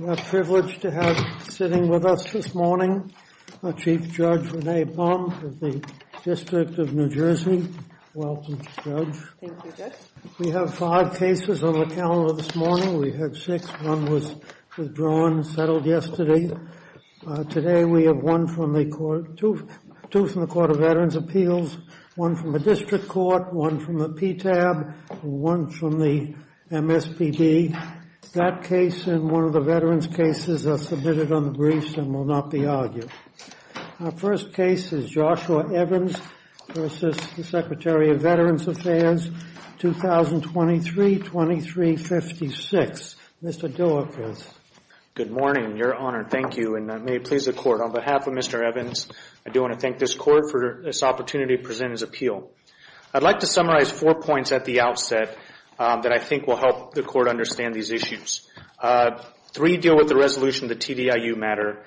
We are privileged to have sitting with us this morning, Chief Judge Renee Baum of the District of New Jersey. Welcome, Judge. Thank you, Judge. We have five cases on the calendar this morning. We had six. One was withdrawn and settled yesterday. Today we have two from the Court of Veterans' Appeals, one from the District Court, one from the PTAB, and one from the MSPB. That case and one of the veterans' cases are submitted on the briefs and will not be argued. Our first case is Joshua Evans v. Secretary of Veterans Affairs, 2023-2356. Mr. Dillekers. Good morning, Your Honor. Thank you, and may it please the Court, on behalf of Mr. Evans, I do want to thank this Court for this opportunity to present his appeal. I'd like to summarize four points at the outset that I think will help the Court understand these issues. Three deal with the resolution of the TDIU matter.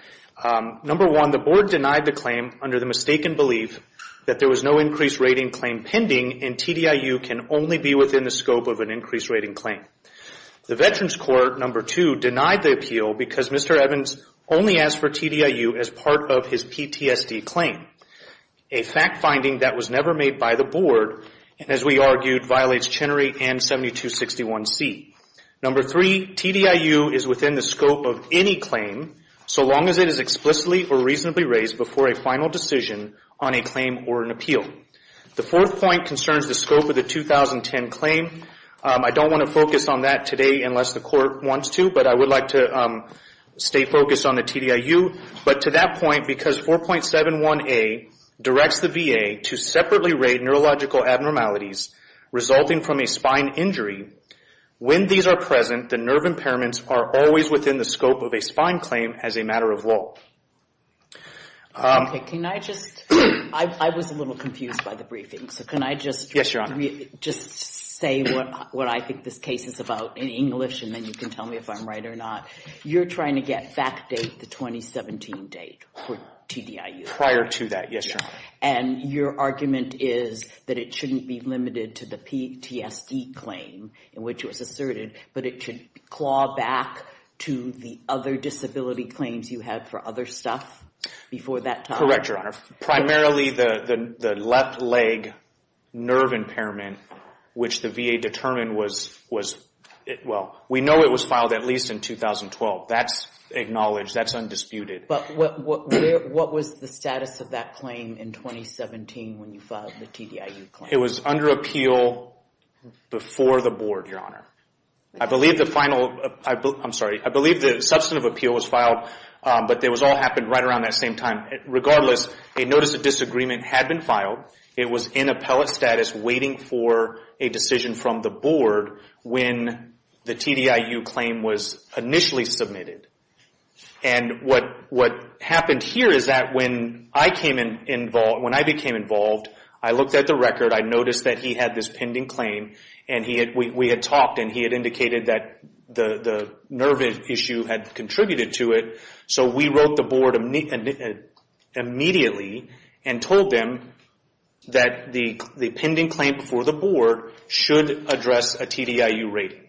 Number one, the Board denied the claim under the mistaken belief that there was no increased rating claim pending and TDIU can only be within the scope of an increased rating claim. The Veterans Court, number two, denied the appeal because Mr. Evans only asked for TDIU as part of his PTSD claim. A fact finding that was never made by the Board, and as we argued, violates Chenery and 7261C. Number three, TDIU is within the scope of any claim so long as it is explicitly or reasonably raised before a final decision on a claim or an appeal. The fourth point concerns the scope of the 2010 claim. I don't want to focus on that today unless the Court wants to, but I would like to stay focused on the TDIU, but to that point, because 4.71A directs the VA to separately rate neurological abnormalities resulting from a spine injury, when these are present, the nerve impairments are always within the scope of a spine claim as a matter of law. Okay, can I just, I was a little confused by the briefing, so can I just say what I think this case is about in English and then you can tell me if I'm right or not. You're trying to get fact date the 2017 date for TDIU. Prior to that, yes, Your Honor. And your argument is that it shouldn't be limited to the PTSD claim in which it was asserted, but it should claw back to the other disability claims you had for other stuff before that time? Correct, Your Honor. Primarily the left leg nerve impairment, which the VA determined was, well, we know it was in 2012. That's acknowledged. That's undisputed. But what was the status of that claim in 2017 when you filed the TDIU claim? It was under appeal before the board, Your Honor. I believe the final, I'm sorry, I believe the substantive appeal was filed, but it all happened right around that same time. Regardless, a notice of disagreement had been filed. It was in appellate status waiting for a decision from the board when the TDIU claim was initially submitted. And what happened here is that when I became involved, I looked at the record. I noticed that he had this pending claim, and we had talked, and he had indicated that the nerve issue had contributed to it. So we wrote the board immediately and told them that the pending claim before the board should address a TDIU rating.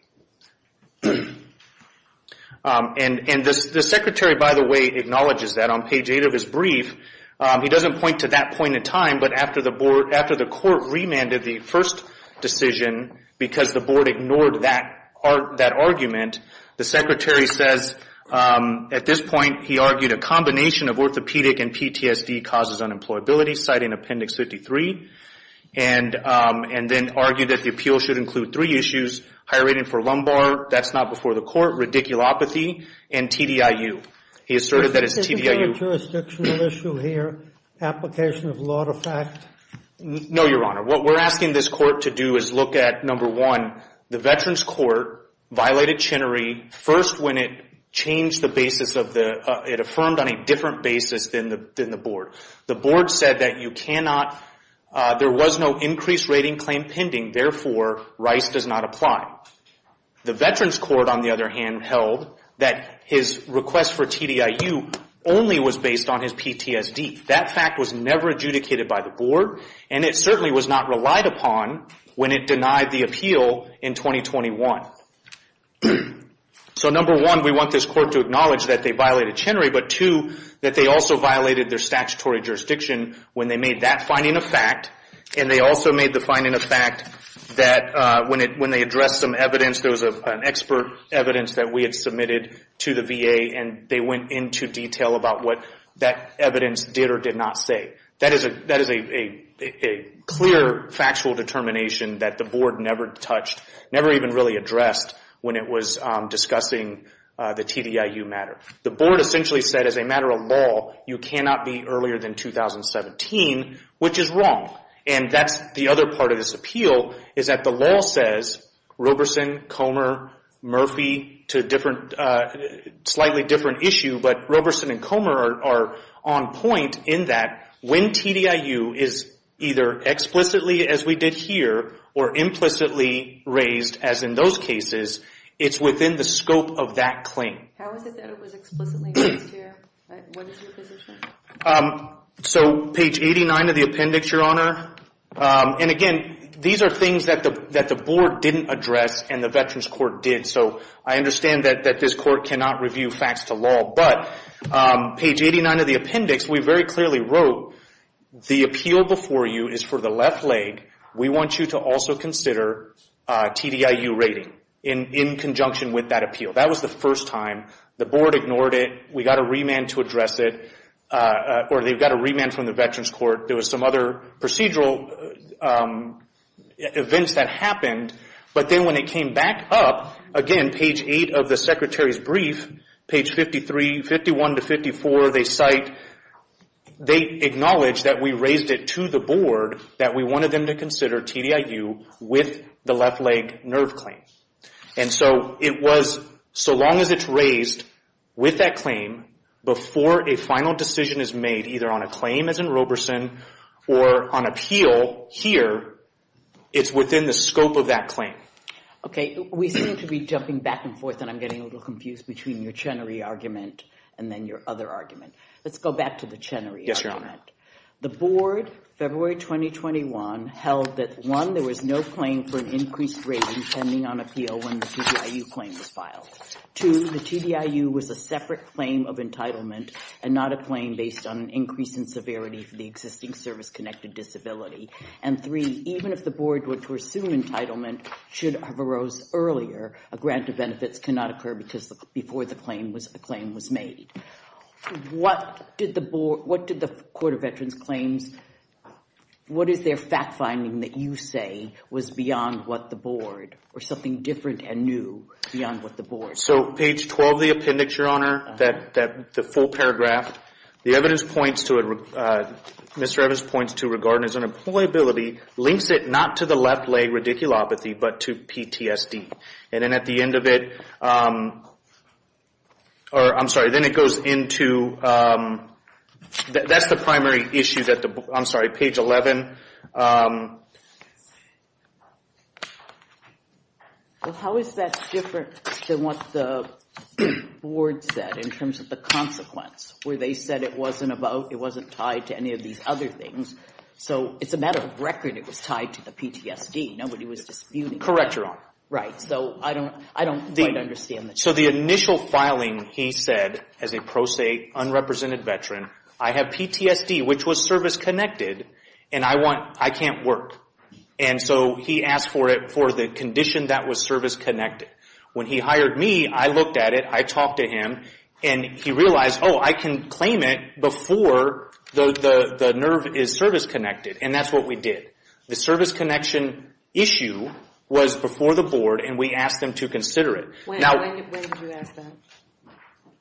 And the secretary, by the way, acknowledges that. On page eight of his brief, he doesn't point to that point in time, but after the court remanded the first decision because the board ignored that argument, the secretary says at this point, he argued a combination of orthopedic and PTSD causes unemployability, cited in appendix 53, and then argued that the appeal should include three issues, higher rating for lumbar, that's not before the court, radiculopathy, and TDIU. He asserted that it's TDIU. Is there a jurisdictional issue here, application of law to fact? No, Your Honor. What we're asking this court to do is look at, number one, the Veterans Court violated Chinnery first when it changed the basis of the, it affirmed on a different basis than the board. The board said that you cannot, there was no increased rating claim pending, therefore, Rice does not apply. The Veterans Court, on the other hand, held that his request for TDIU only was based on his PTSD. That fact was never adjudicated by the board, and it certainly was not relied upon when it denied the appeal in 2021. So, number one, we want this court to acknowledge that they violated Chinnery, but two, that they also violated their statutory jurisdiction when they made that finding a fact, and they also made the finding a fact that when they addressed some evidence, there was an expert evidence that we had submitted to the VA, and they went into detail about what that evidence did or did not say. That is a clear, factual determination that the board never touched, never even really addressed when it was discussing the TDIU matter. The board essentially said, as a matter of law, you cannot be earlier than 2017, which is wrong. And that's the other part of this appeal, is that the law says Roberson, Comer, Murphy to slightly different issue, but Roberson and Comer are on point in that when TDIU is either explicitly, as we did here, or implicitly raised, as in those cases, it's within the scope of that claim. How is it that it was explicitly raised here? What is your position? So, page 89 of the appendix, Your Honor, and again, these are things that the board didn't address and the Veterans Court did. So, I understand that this court cannot review facts to law, but page 89 of the appendix, we very clearly wrote, the appeal before you is for the left leg. We want you to also consider TDIU rating in conjunction with that appeal. That was the first time. The board ignored it. We got a remand to address it, or they got a remand from the Veterans Court. There was some other procedural events that happened, but then when it came back up, again, page 8 of the secretary's brief, page 53, 51 to 54, they acknowledge that we raised it to the board, that we wanted them to consider TDIU with the left leg nerve claim. And so, it was, so long as it's raised with that claim before a final decision is made, either on a claim as in Roberson or on appeal here, it's within the scope of that claim. Okay, we seem to be jumping back and forth, and I'm getting a little confused between your Chenery argument and then your other argument. Let's go back to the Chenery argument. The board, February 2021, held that, one, there was no claim for an increased rating pending on appeal when the TDIU claim was filed. Two, the TDIU was a separate claim of entitlement and not a claim based on an increase in severity for the existing service-connected disability. And three, even if the board were to assume entitlement should have arose earlier, a grant of benefits cannot occur before the claim was made. What did the board, what did the Court of Veterans Claims, what is their fact-finding that you say was beyond what the board, or something different and new beyond what the board? So, page 12 of the appendix, Your Honor, that, the full paragraph, the evidence points to, Mr. Evans points to, regarding his unemployability, links it not to the left-leg radiculopathy, but to PTSD. And then at the end of it, or I'm sorry, then it goes into, that's the primary issue, page at the, I'm sorry, page 11. Well, how is that different than what the board said in terms of the consequence, where they said it wasn't about, it wasn't tied to any of these other things? So, it's a matter of record it was tied to the PTSD. Nobody was disputing it. Correct, Your Honor. Right. So, I don't quite understand the difference. So, the initial filing, he said, as a pro se, unrepresented veteran, I have PTSD, which was service-connected, and I want, I can't work. And so, he asked for it, for the condition that was service-connected. When he hired me, I looked at it, I talked to him, and he realized, oh, I can claim it before the nerve is service-connected, and that's what we did. The service-connection issue was before the board, and we asked them to consider it. When did you ask that?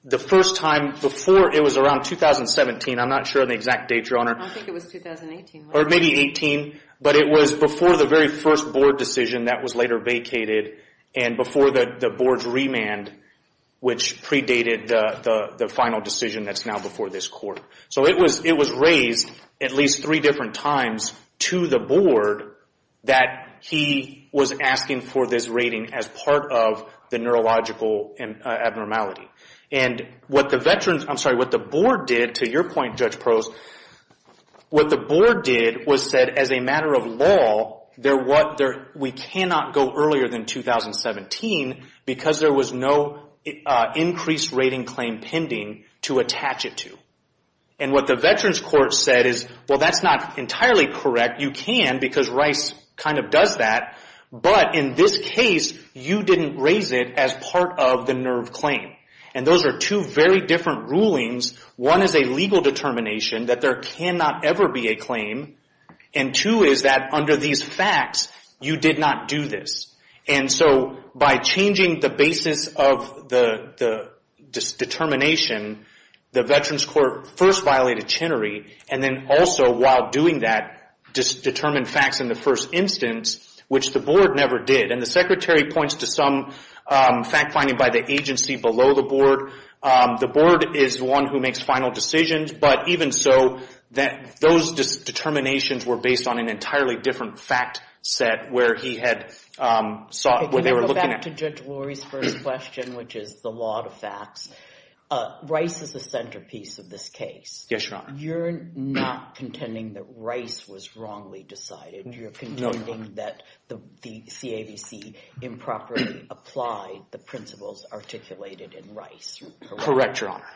The first time, before, it was around 2017. I'm not sure of the exact date, Your Honor. I think it was 2018. Or maybe 18, but it was before the very first board decision that was later vacated, and before the board's remand, which predated the final decision that's now before this court. So, it was raised at least three different times to the board that he was asking for this rating as part of the neurological abnormality. And what the veterans, I'm sorry, what the board did, to your point, Judge Pearls, what the board did was said, as a matter of law, we cannot go earlier than 2017 because there was no increased rating claim pending to attach it to. And what the veterans court said is, well, that's not entirely correct. You can because Rice kind of does that, but in this case, you didn't raise it as part of the NERV claim. And those are two very different rulings. One is a legal determination that there cannot ever be a claim, and two is that under these facts, you did not do this. And so, by changing the basis of the determination, the veterans court first violated Chenery, and then also, while doing that, determined facts in the first instance, which the board never did. And the secretary points to some fact-finding by the agency below the board. The board is the one who makes final decisions, but even so, those determinations were based on an entirely different fact set where he had sought, what they were looking at. Can we go back to Judge Lurie's first question, which is the law of facts? Rice is the centerpiece of this case. Yes, Your Honor. You're not contending that Rice was wrongly decided. You're contending that the CAVC improperly applied the principles articulated in Rice. Correct, Your Honor.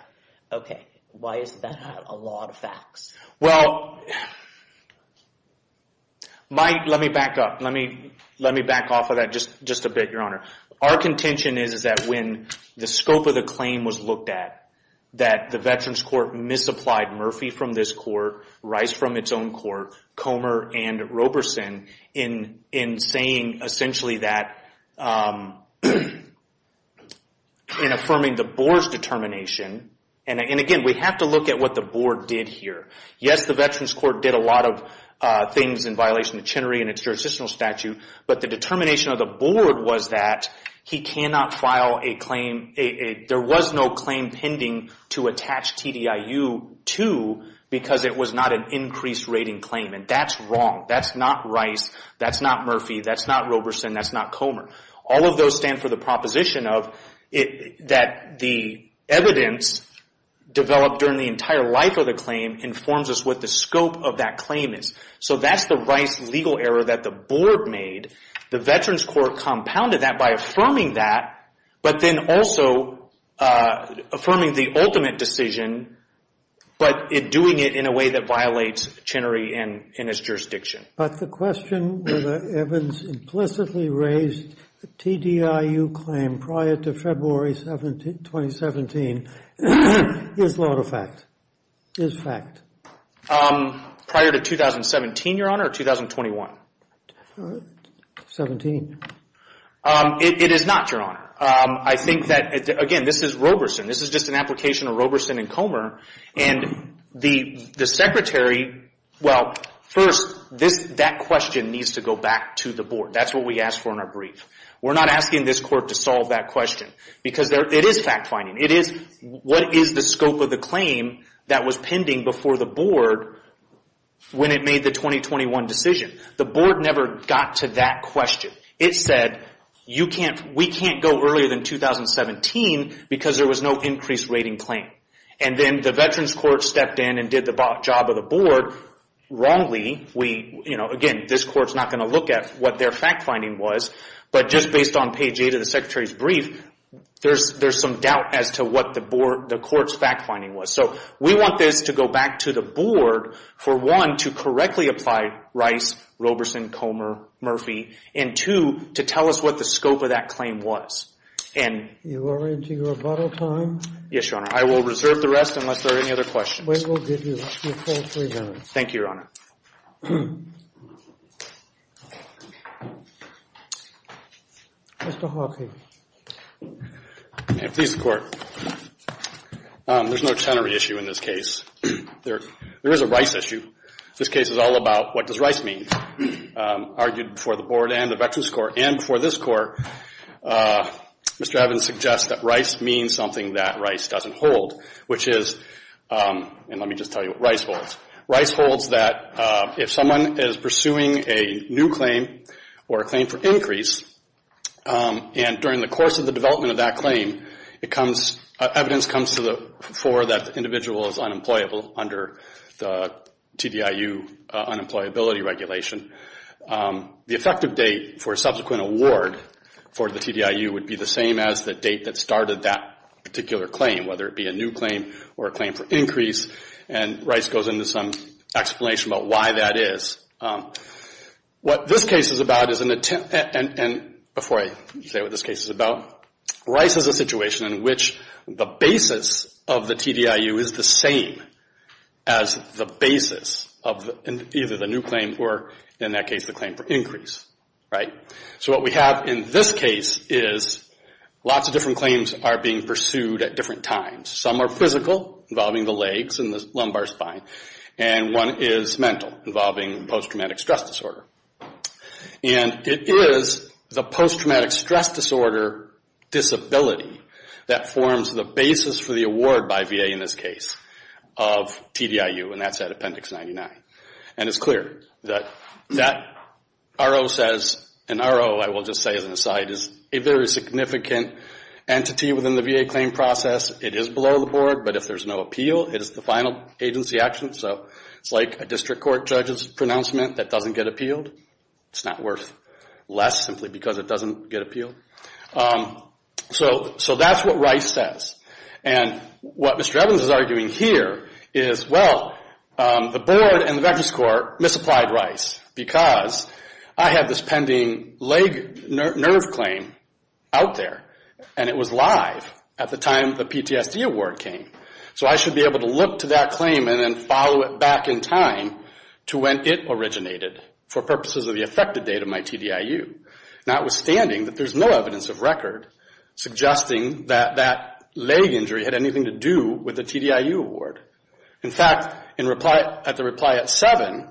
Okay. Why is that a law of facts? Well, let me back up. Let me back off of that just a bit, Your Honor. Our contention is that when the scope of the claim was looked at, that the Veterans Court misapplied Murphy from this court, Rice from its own court, Comer, and Roberson in saying essentially that in affirming the board's determination, and again, we have to look at what the board did here. Yes, the Veterans Court did a lot of things in violation of Chenery and its jurisdictional statute, but the determination of the board was that he cannot file a claim. There was no claim pending to attach TDIU to because it was not an increased rating claim, and that's wrong. That's not Rice. That's not Murphy. That's not Roberson. That's not Comer. All of those stand for the proposition that the evidence developed during the entire life of the claim informs us what the scope of that claim is. So that's the Rice legal error that the board made. The Veterans Court compounded that by affirming that, but then also affirming the ultimate decision, but doing it in a way that violates Chenery and its jurisdiction. But the question whether Evans implicitly raised the TDIU claim prior to February 2017 is lawful fact, is fact. Prior to 2017, Your Honor, or 2021? 17. It is not, Your Honor. I think that, again, this is Roberson. This is just an application of Roberson and Comer, and the secretary, well, first, that question needs to go back to the board. That's what we asked for in our brief. We're not asking this court to solve that question because it is fact-finding. It is what is the scope of the claim that was pending before the board when it made the 2021 decision. The board never got to that question. It said we can't go earlier than 2017 because there was no increased rating claim. And then the Veterans Court stepped in and did the job of the board. Wrongly, again, this court's not going to look at what their fact-finding was, but just based on page 8 of the secretary's brief, there's some doubt as to what the court's fact-finding was. So we want this to go back to the board for, one, to correctly apply Rice, Roberson, Comer, Murphy, and, two, to tell us what the scope of that claim was. You are into your rebuttal time? Yes, Your Honor. I will reserve the rest unless there are any other questions. We will give you your full three minutes. Thank you, Your Honor. Mr. Hawking. May it please the Court. There's no tenery issue in this case. There is a Rice issue. This case is all about what does Rice mean. Argued before the board and the Veterans Court and before this Court, Mr. Evans suggests that Rice means something that Rice doesn't hold, which is, and let me just tell you what Rice holds. Rice holds that if someone is pursuing a new claim or a claim for increase, and during the course of the development of that claim, evidence comes to the fore that the individual is unemployable under the TDIU unemployability regulation, the effective date for a subsequent award for the TDIU would be the same as the date that started that particular claim, whether it be a new claim or a claim for increase, and Rice goes into some explanation about why that is. What this case is about is an attempt, and before I say what this case is about, Rice is a situation in which the basis of the TDIU is the same as the basis of either the new claim or, in that case, the claim for increase, right? So what we have in this case is lots of different claims are being pursued at different times. Some are physical, involving the legs and the lumbar spine, and one is mental, involving post-traumatic stress disorder. And it is the post-traumatic stress disorder disability that forms the basis for the award by VA in this case of TDIU, and that's at Appendix 99. And it's clear that that RO says, and RO, I will just say as an aside, is a very significant entity within the VA claim process. It is below the board, but if there's no appeal, it is the final agency action. So it's like a district court judge's pronouncement that doesn't get appealed. It's not worth less simply because it doesn't get appealed. So that's what Rice says. And what Mr. Evans is arguing here is, well, the board and the Veterans Court misapplied Rice because I have this pending leg nerve claim out there, and it was live at the time the PTSD award came. So I should be able to look to that claim and then follow it back in time to when it originated for purposes of the effective date of my TDIU, notwithstanding that there's no evidence of record suggesting that that leg injury had anything to do with the TDIU award. In fact, at the reply at 7,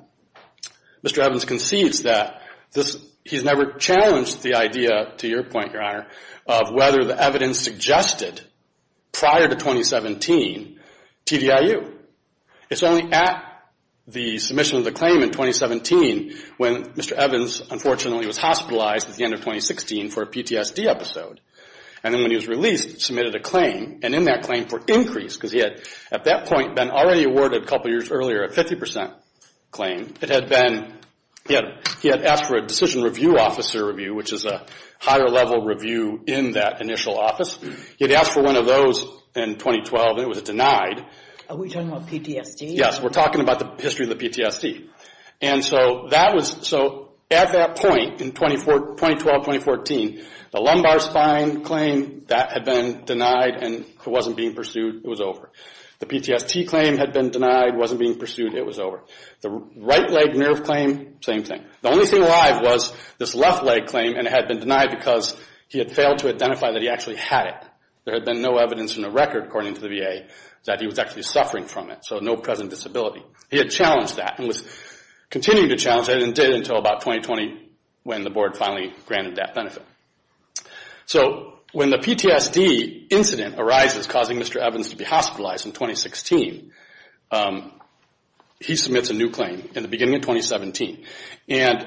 Mr. Evans concedes that he's never challenged the idea, to your point, Your Honor, of whether the evidence suggested prior to 2017 TDIU. It's only at the submission of the claim in 2017 when Mr. Evans, unfortunately, was hospitalized at the end of 2016 for a PTSD episode. And then when he was released, submitted a claim, and in that claim for increase, because he had at that point been already awarded a couple years earlier a 50% claim. It had been, he had asked for a decision review officer review, which is a higher level review in that initial office. He had asked for one of those in 2012, and it was denied. Are we talking about PTSD? Yes, we're talking about the history of the PTSD. And so that was, so at that point in 2012-2014, the lumbar spine claim, that had been denied, and it wasn't being pursued. It was over. The PTSD claim had been denied, wasn't being pursued. It was over. The right leg nerve claim, same thing. The only thing alive was this left leg claim, and it had been denied because he had failed to identify that he actually had it. There had been no evidence in the record, according to the VA, that he was actually suffering from it, so no present disability. He had challenged that and was continuing to challenge that and didn't until about 2020 when the board finally granted that benefit. So when the PTSD incident arises, causing Mr. Evans to be hospitalized in 2016, he submits a new claim in the beginning of 2017. And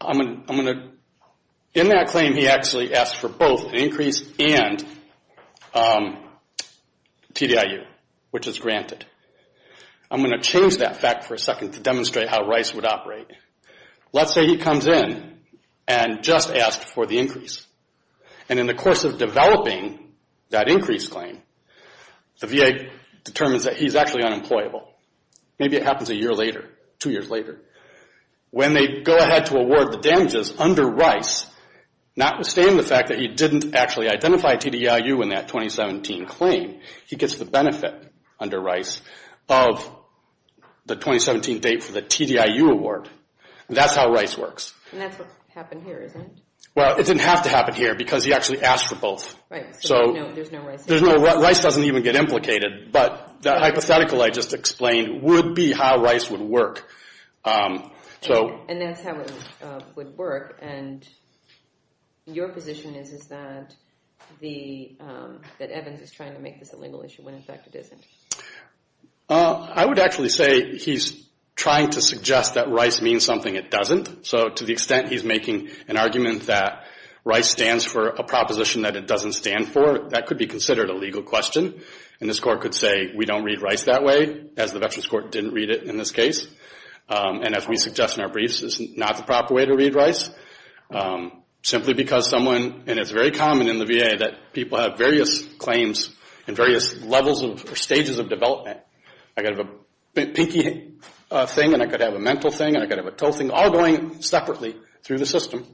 I'm going to, in that claim he actually asked for both an increase and TDIU, which is granted. I'm going to change that fact for a second to demonstrate how Rice would operate. Let's say he comes in and just asked for the increase. And in the course of developing that increase claim, the VA determines that he's actually unemployable. Maybe it happens a year later, two years later. When they go ahead to award the damages under Rice, notwithstanding the fact that he didn't actually identify TDIU in that 2017 claim, he gets the benefit under Rice of the 2017 date for the TDIU award. That's how Rice works. And that's what happened here, isn't it? Well, it didn't have to happen here because he actually asked for both. So Rice doesn't even get implicated, but the hypothetical I just explained would be how Rice would work. And that's how it would work. And your position is that Evans is trying to make this a legal issue, when in fact it isn't. I would actually say he's trying to suggest that Rice means something it doesn't. So to the extent he's making an argument that Rice stands for a proposition that it doesn't stand for, that could be considered a legal question. And this court could say, we don't read Rice that way, as the Veterans Court didn't read it in this case. And as we suggest in our briefs, it's not the proper way to read Rice, simply because someone, and it's very common in the VA, that people have various claims and various levels or stages of development. I could have a pinky thing, and I could have a mental thing, and I could have a toe thing, all going separately through the system.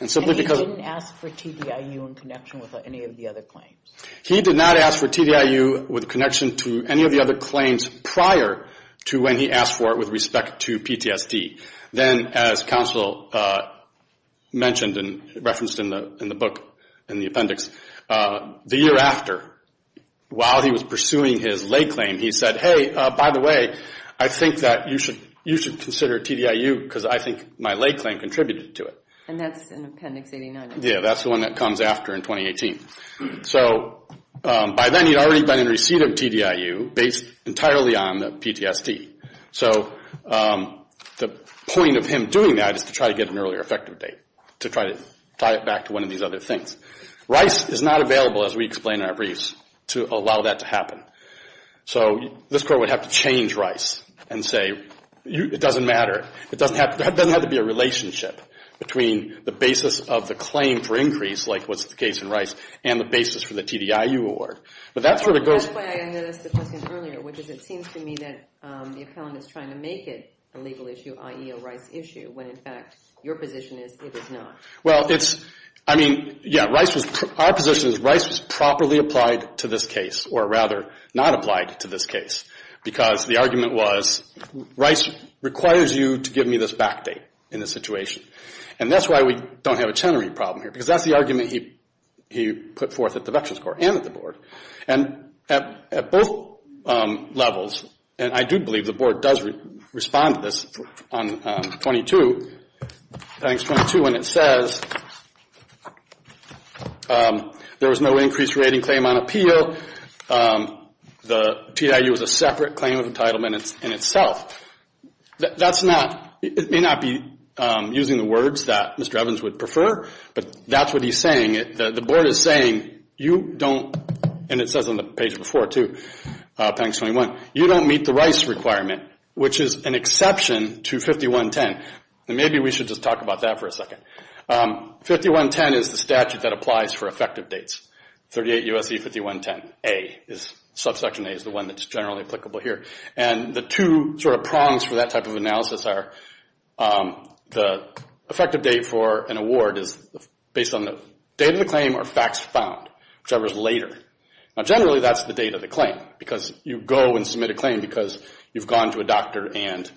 And he didn't ask for TDIU in connection with any of the other claims? He did not ask for TDIU with connection to any of the other claims prior to when he asked for it with respect to PTSD. Then, as counsel mentioned and referenced in the book, in the appendix, the year after, while he was pursuing his lay claim, he said, hey, by the way, I think that you should consider TDIU because I think my lay claim contributed to it. And that's in Appendix 89. Yeah, that's the one that comes after in 2018. So by then, he'd already been in receipt of TDIU based entirely on the PTSD. So the point of him doing that is to try to get an earlier effective date, to try to tie it back to one of these other things. Rice is not available, as we explain in our briefs, to allow that to happen. So this court would have to change Rice and say, it doesn't matter. It doesn't have to be a relationship between the basis of the claim for increase, like what's the case in Rice, and the basis for the TDIU award. That's why I noticed the question earlier, which is it seems to me that the appellant is trying to make it a legal issue, i.e. a Rice issue, when in fact your position is it is not. Well, it's, I mean, yeah, our position is Rice was properly applied to this case or rather not applied to this case because the argument was Rice requires you to give me this back date in this situation. And that's why we don't have a Chenery problem here because that's the argument he put forth at the Veterans Court and at the Board. And at both levels, and I do believe the Board does respond to this on 22, I think it's 22, and it says there was no increased rating claim on appeal. The TDIU was a separate claim of entitlement in itself. That's not, it may not be using the words that Mr. Evans would prefer, but that's what he's saying. The Board is saying you don't, and it says on the page before too, appendix 21, you don't meet the Rice requirement, which is an exception to 5110. Maybe we should just talk about that for a second. 5110 is the statute that applies for effective dates. 38 U.S.C. 5110A is, subsection A is the one that's generally applicable here. And the two sort of prongs for that type of analysis are the effective date for an award is based on the date of the claim or facts found, whichever is later. Now generally, that's the date of the claim because you go and submit a claim because you've gone to a doctor and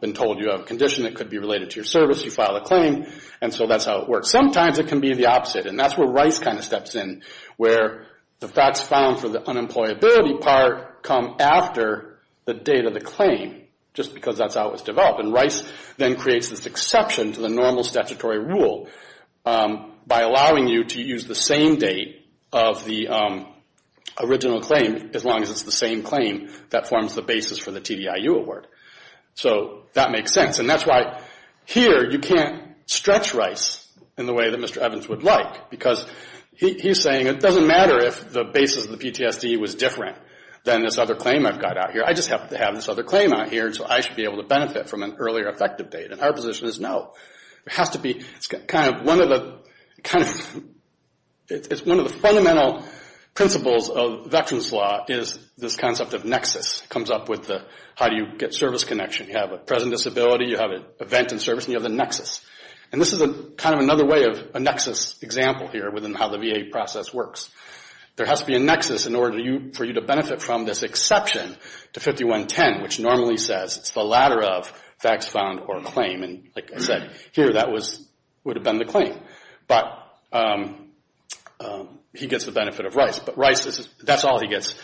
been told you have a condition that could be related to your service. You file a claim, and so that's how it works. Sometimes it can be the opposite, and that's where Rice kind of steps in, where the facts found for the unemployability part come after the date of the claim just because that's how it was developed. And Rice then creates this exception to the normal statutory rule by allowing you to use the same date of the original claim as long as it's the same claim that forms the basis for the TDIU award. So that makes sense. And that's why here you can't stretch Rice in the way that Mr. Evans would like because he's saying it doesn't matter if the basis of the PTSD was different than this other claim I've got out here. I just happen to have this other claim out here, so I should be able to benefit from an earlier effective date. And our position is no. It has to be kind of one of the fundamental principles of veterans' law is this concept of nexus. It comes up with the how do you get service connection. You have a present disability, you have an event in service, and you have the nexus. And this is kind of another way of a nexus example here within how the VA process works. There has to be a nexus in order for you to benefit from this exception to 5110, which normally says it's the latter of facts found or claim. And like I said, here that would have been the claim. But he gets the benefit of Rice. But Rice, that's all he gets.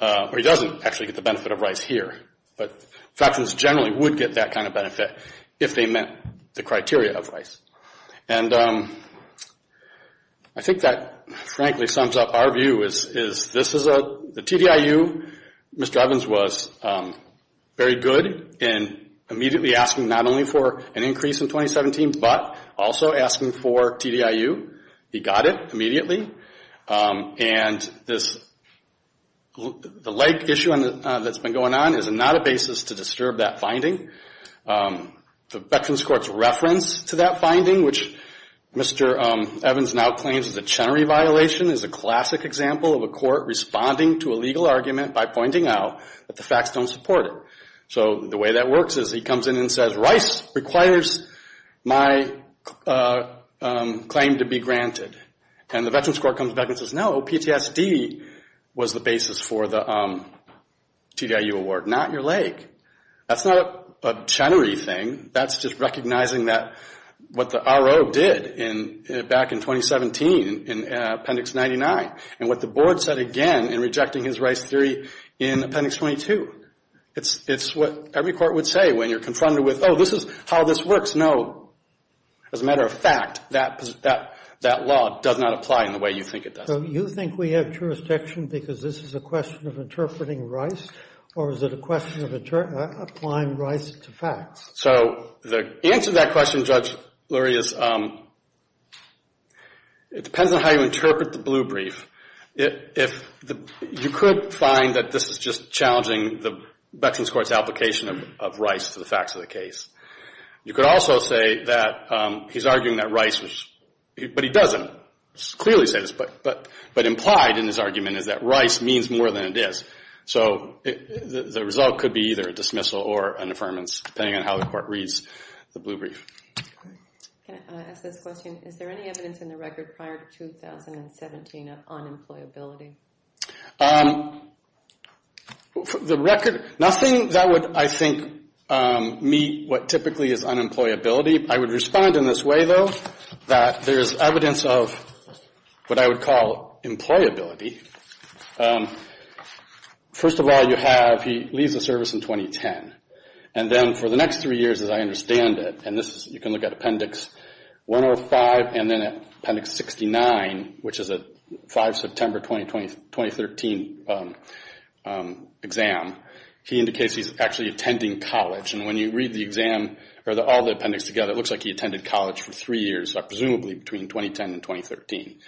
Or he doesn't actually get the benefit of Rice here. But veterans generally would get that kind of benefit if they met the criteria of Rice. And I think that, frankly, sums up our view is this is a TDIU. Mr. Evans was very good in immediately asking not only for an increase in 2017, but also asking for TDIU. He got it immediately. And the leg issue that's been going on is not a basis to disturb that finding. The Veterans Court's reference to that finding, which Mr. Evans now claims is a Chenery violation, is a classic example of a court responding to a legal argument by pointing out that the facts don't support it. So the way that works is he comes in and says, Rice requires my claim to be granted. And the Veterans Court comes back and says, no, PTSD was the basis for the TDIU award, not your leg. That's not a Chenery thing. That's just recognizing what the RO did back in 2017 in Appendix 99 and what the board said again in rejecting his Rice theory in Appendix 22. It's what every court would say when you're confronted with, oh, this is how this works. No, as a matter of fact, that law does not apply in the way you think it does. So you think we have jurisdiction because this is a question of interpreting Rice, or is it a question of applying Rice to facts? So the answer to that question, Judge Lurie, is it depends on how you interpret the blue brief. You could find that this is just challenging the Veterans Court's application of Rice to the facts of the case. You could also say that he's arguing that Rice was, but he doesn't clearly say this, but implied in his argument is that Rice means more than it does. So the result could be either a dismissal or an affirmance, depending on how the court reads the blue brief. Can I ask this question? Is there any evidence in the record prior to 2017 of unemployability? The record, nothing that would, I think, meet what typically is unemployability. I would respond in this way, though, that there is evidence of what I would call employability. First of all, you have he leaves the service in 2010, and then for the next three years, as I understand it, and this is, you can look at Appendix 105 and then Appendix 69, which is a 5 September 2013 exam, he indicates he's actually attending college. And when you read the exam, or all the appendix together, it looks like he attended college for three years, presumably between 2010 and 2013.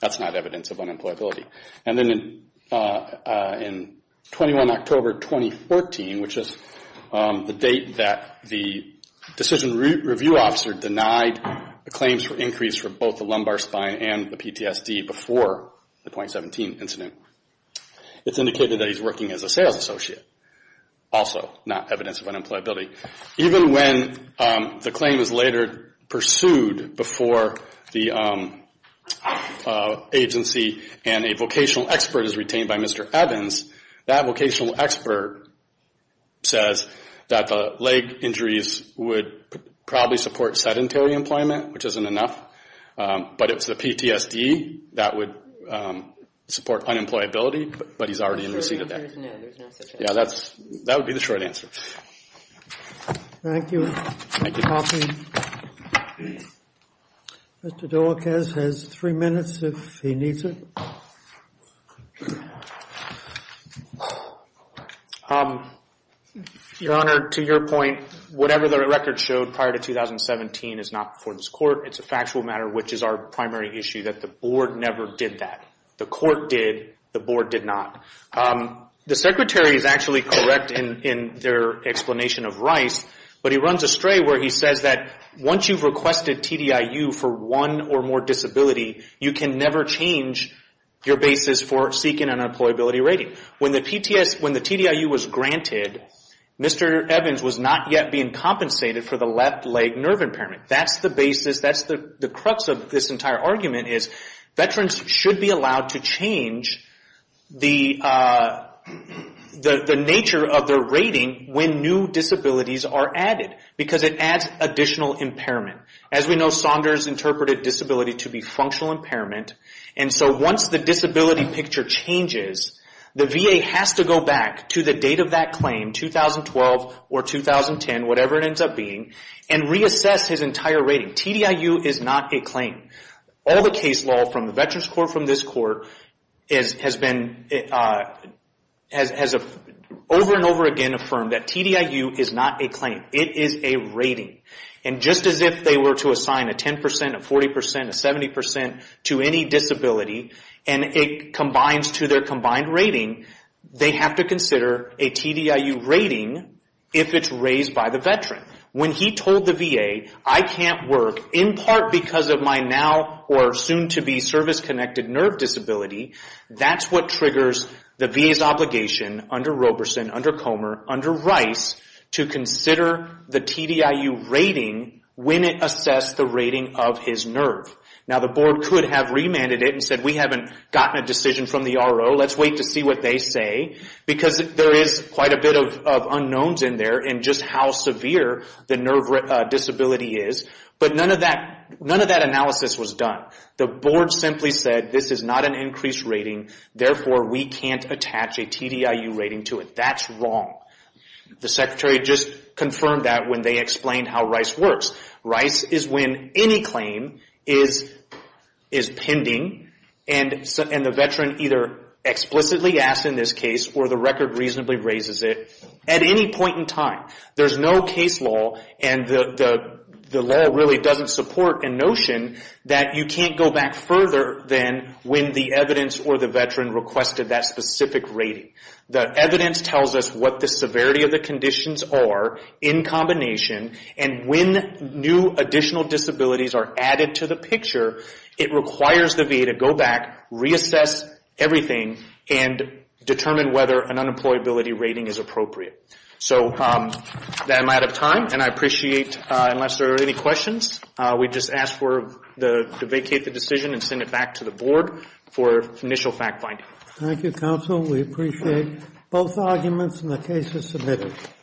That's not evidence of unemployability. And then in 21 October 2014, which is the date that the decision review officer denied claims for increase for both the lumbar spine and the PTSD before the 0.17 incident, it's indicated that he's working as a sales associate. Also not evidence of unemployability. Even when the claim is later pursued before the agency and a vocational expert is retained by Mr. Evans, that vocational expert says that the leg injuries would probably support sedentary employment, which isn't enough, but it's the PTSD that would support unemployability, but he's already in receipt of that. Yeah, that would be the short answer. Thank you. Mr. Deliques has three minutes if he needs it. Your Honor, to your point, whatever the record showed prior to 2017 is not before this court. It's a factual matter, which is our primary issue, that the board never did that. The court did. The board did not. The secretary is actually correct in their explanation of Rice, but he runs astray where he says that once you've requested TDIU for one or more disability, you can never change your basis for seeking an unemployability rating. When the TDIU was granted, Mr. Evans was not yet being compensated for the left leg nerve impairment. That's the basis. That's the crux of this entire argument is veterans should be allowed to change the nature of their rating when new disabilities are added because it adds additional impairment. As we know, Saunders interpreted disability to be functional impairment, and so once the disability picture changes, the VA has to go back to the date of that claim, 2012 or 2010, whatever it ends up being, and reassess his entire rating. TDIU is not a claim. All the case law from the Veterans Court, from this court, has been over and over again affirmed that TDIU is not a claim. It is a rating, and just as if they were to assign a 10 percent, a 40 percent, a 70 percent to any disability, and it combines to their combined rating, they have to consider a TDIU rating if it's raised by the veteran. When he told the VA, I can't work in part because of my now or soon-to-be service-connected nerve disability, that's what triggers the VA's obligation under Roberson, under Comer, under Rice, to consider the TDIU rating when it assessed the rating of his nerve. Now, the board could have remanded it and said, we haven't gotten a decision from the RO, let's wait to see what they say, because there is quite a bit of unknowns in there in just how severe the nerve disability is, but none of that analysis was done. The board simply said, this is not an increased rating, therefore we can't attach a TDIU rating to it. That's wrong. The secretary just confirmed that when they explained how Rice works. Rice is when any claim is pending, and the veteran either explicitly asks in this case, or the record reasonably raises it, at any point in time. There's no case law, and the law really doesn't support a notion that you can't go back further than when the evidence or the veteran requested that specific rating. The evidence tells us what the severity of the conditions are in combination, and when new additional disabilities are added to the picture, it requires the VA to go back, reassess everything, and determine whether an unemployability rating is appropriate. So, I'm out of time, and I appreciate, unless there are any questions, we just ask to vacate the decision and send it back to the board for initial fact-finding. Thank you, counsel. We appreciate both arguments, and the case is submitted.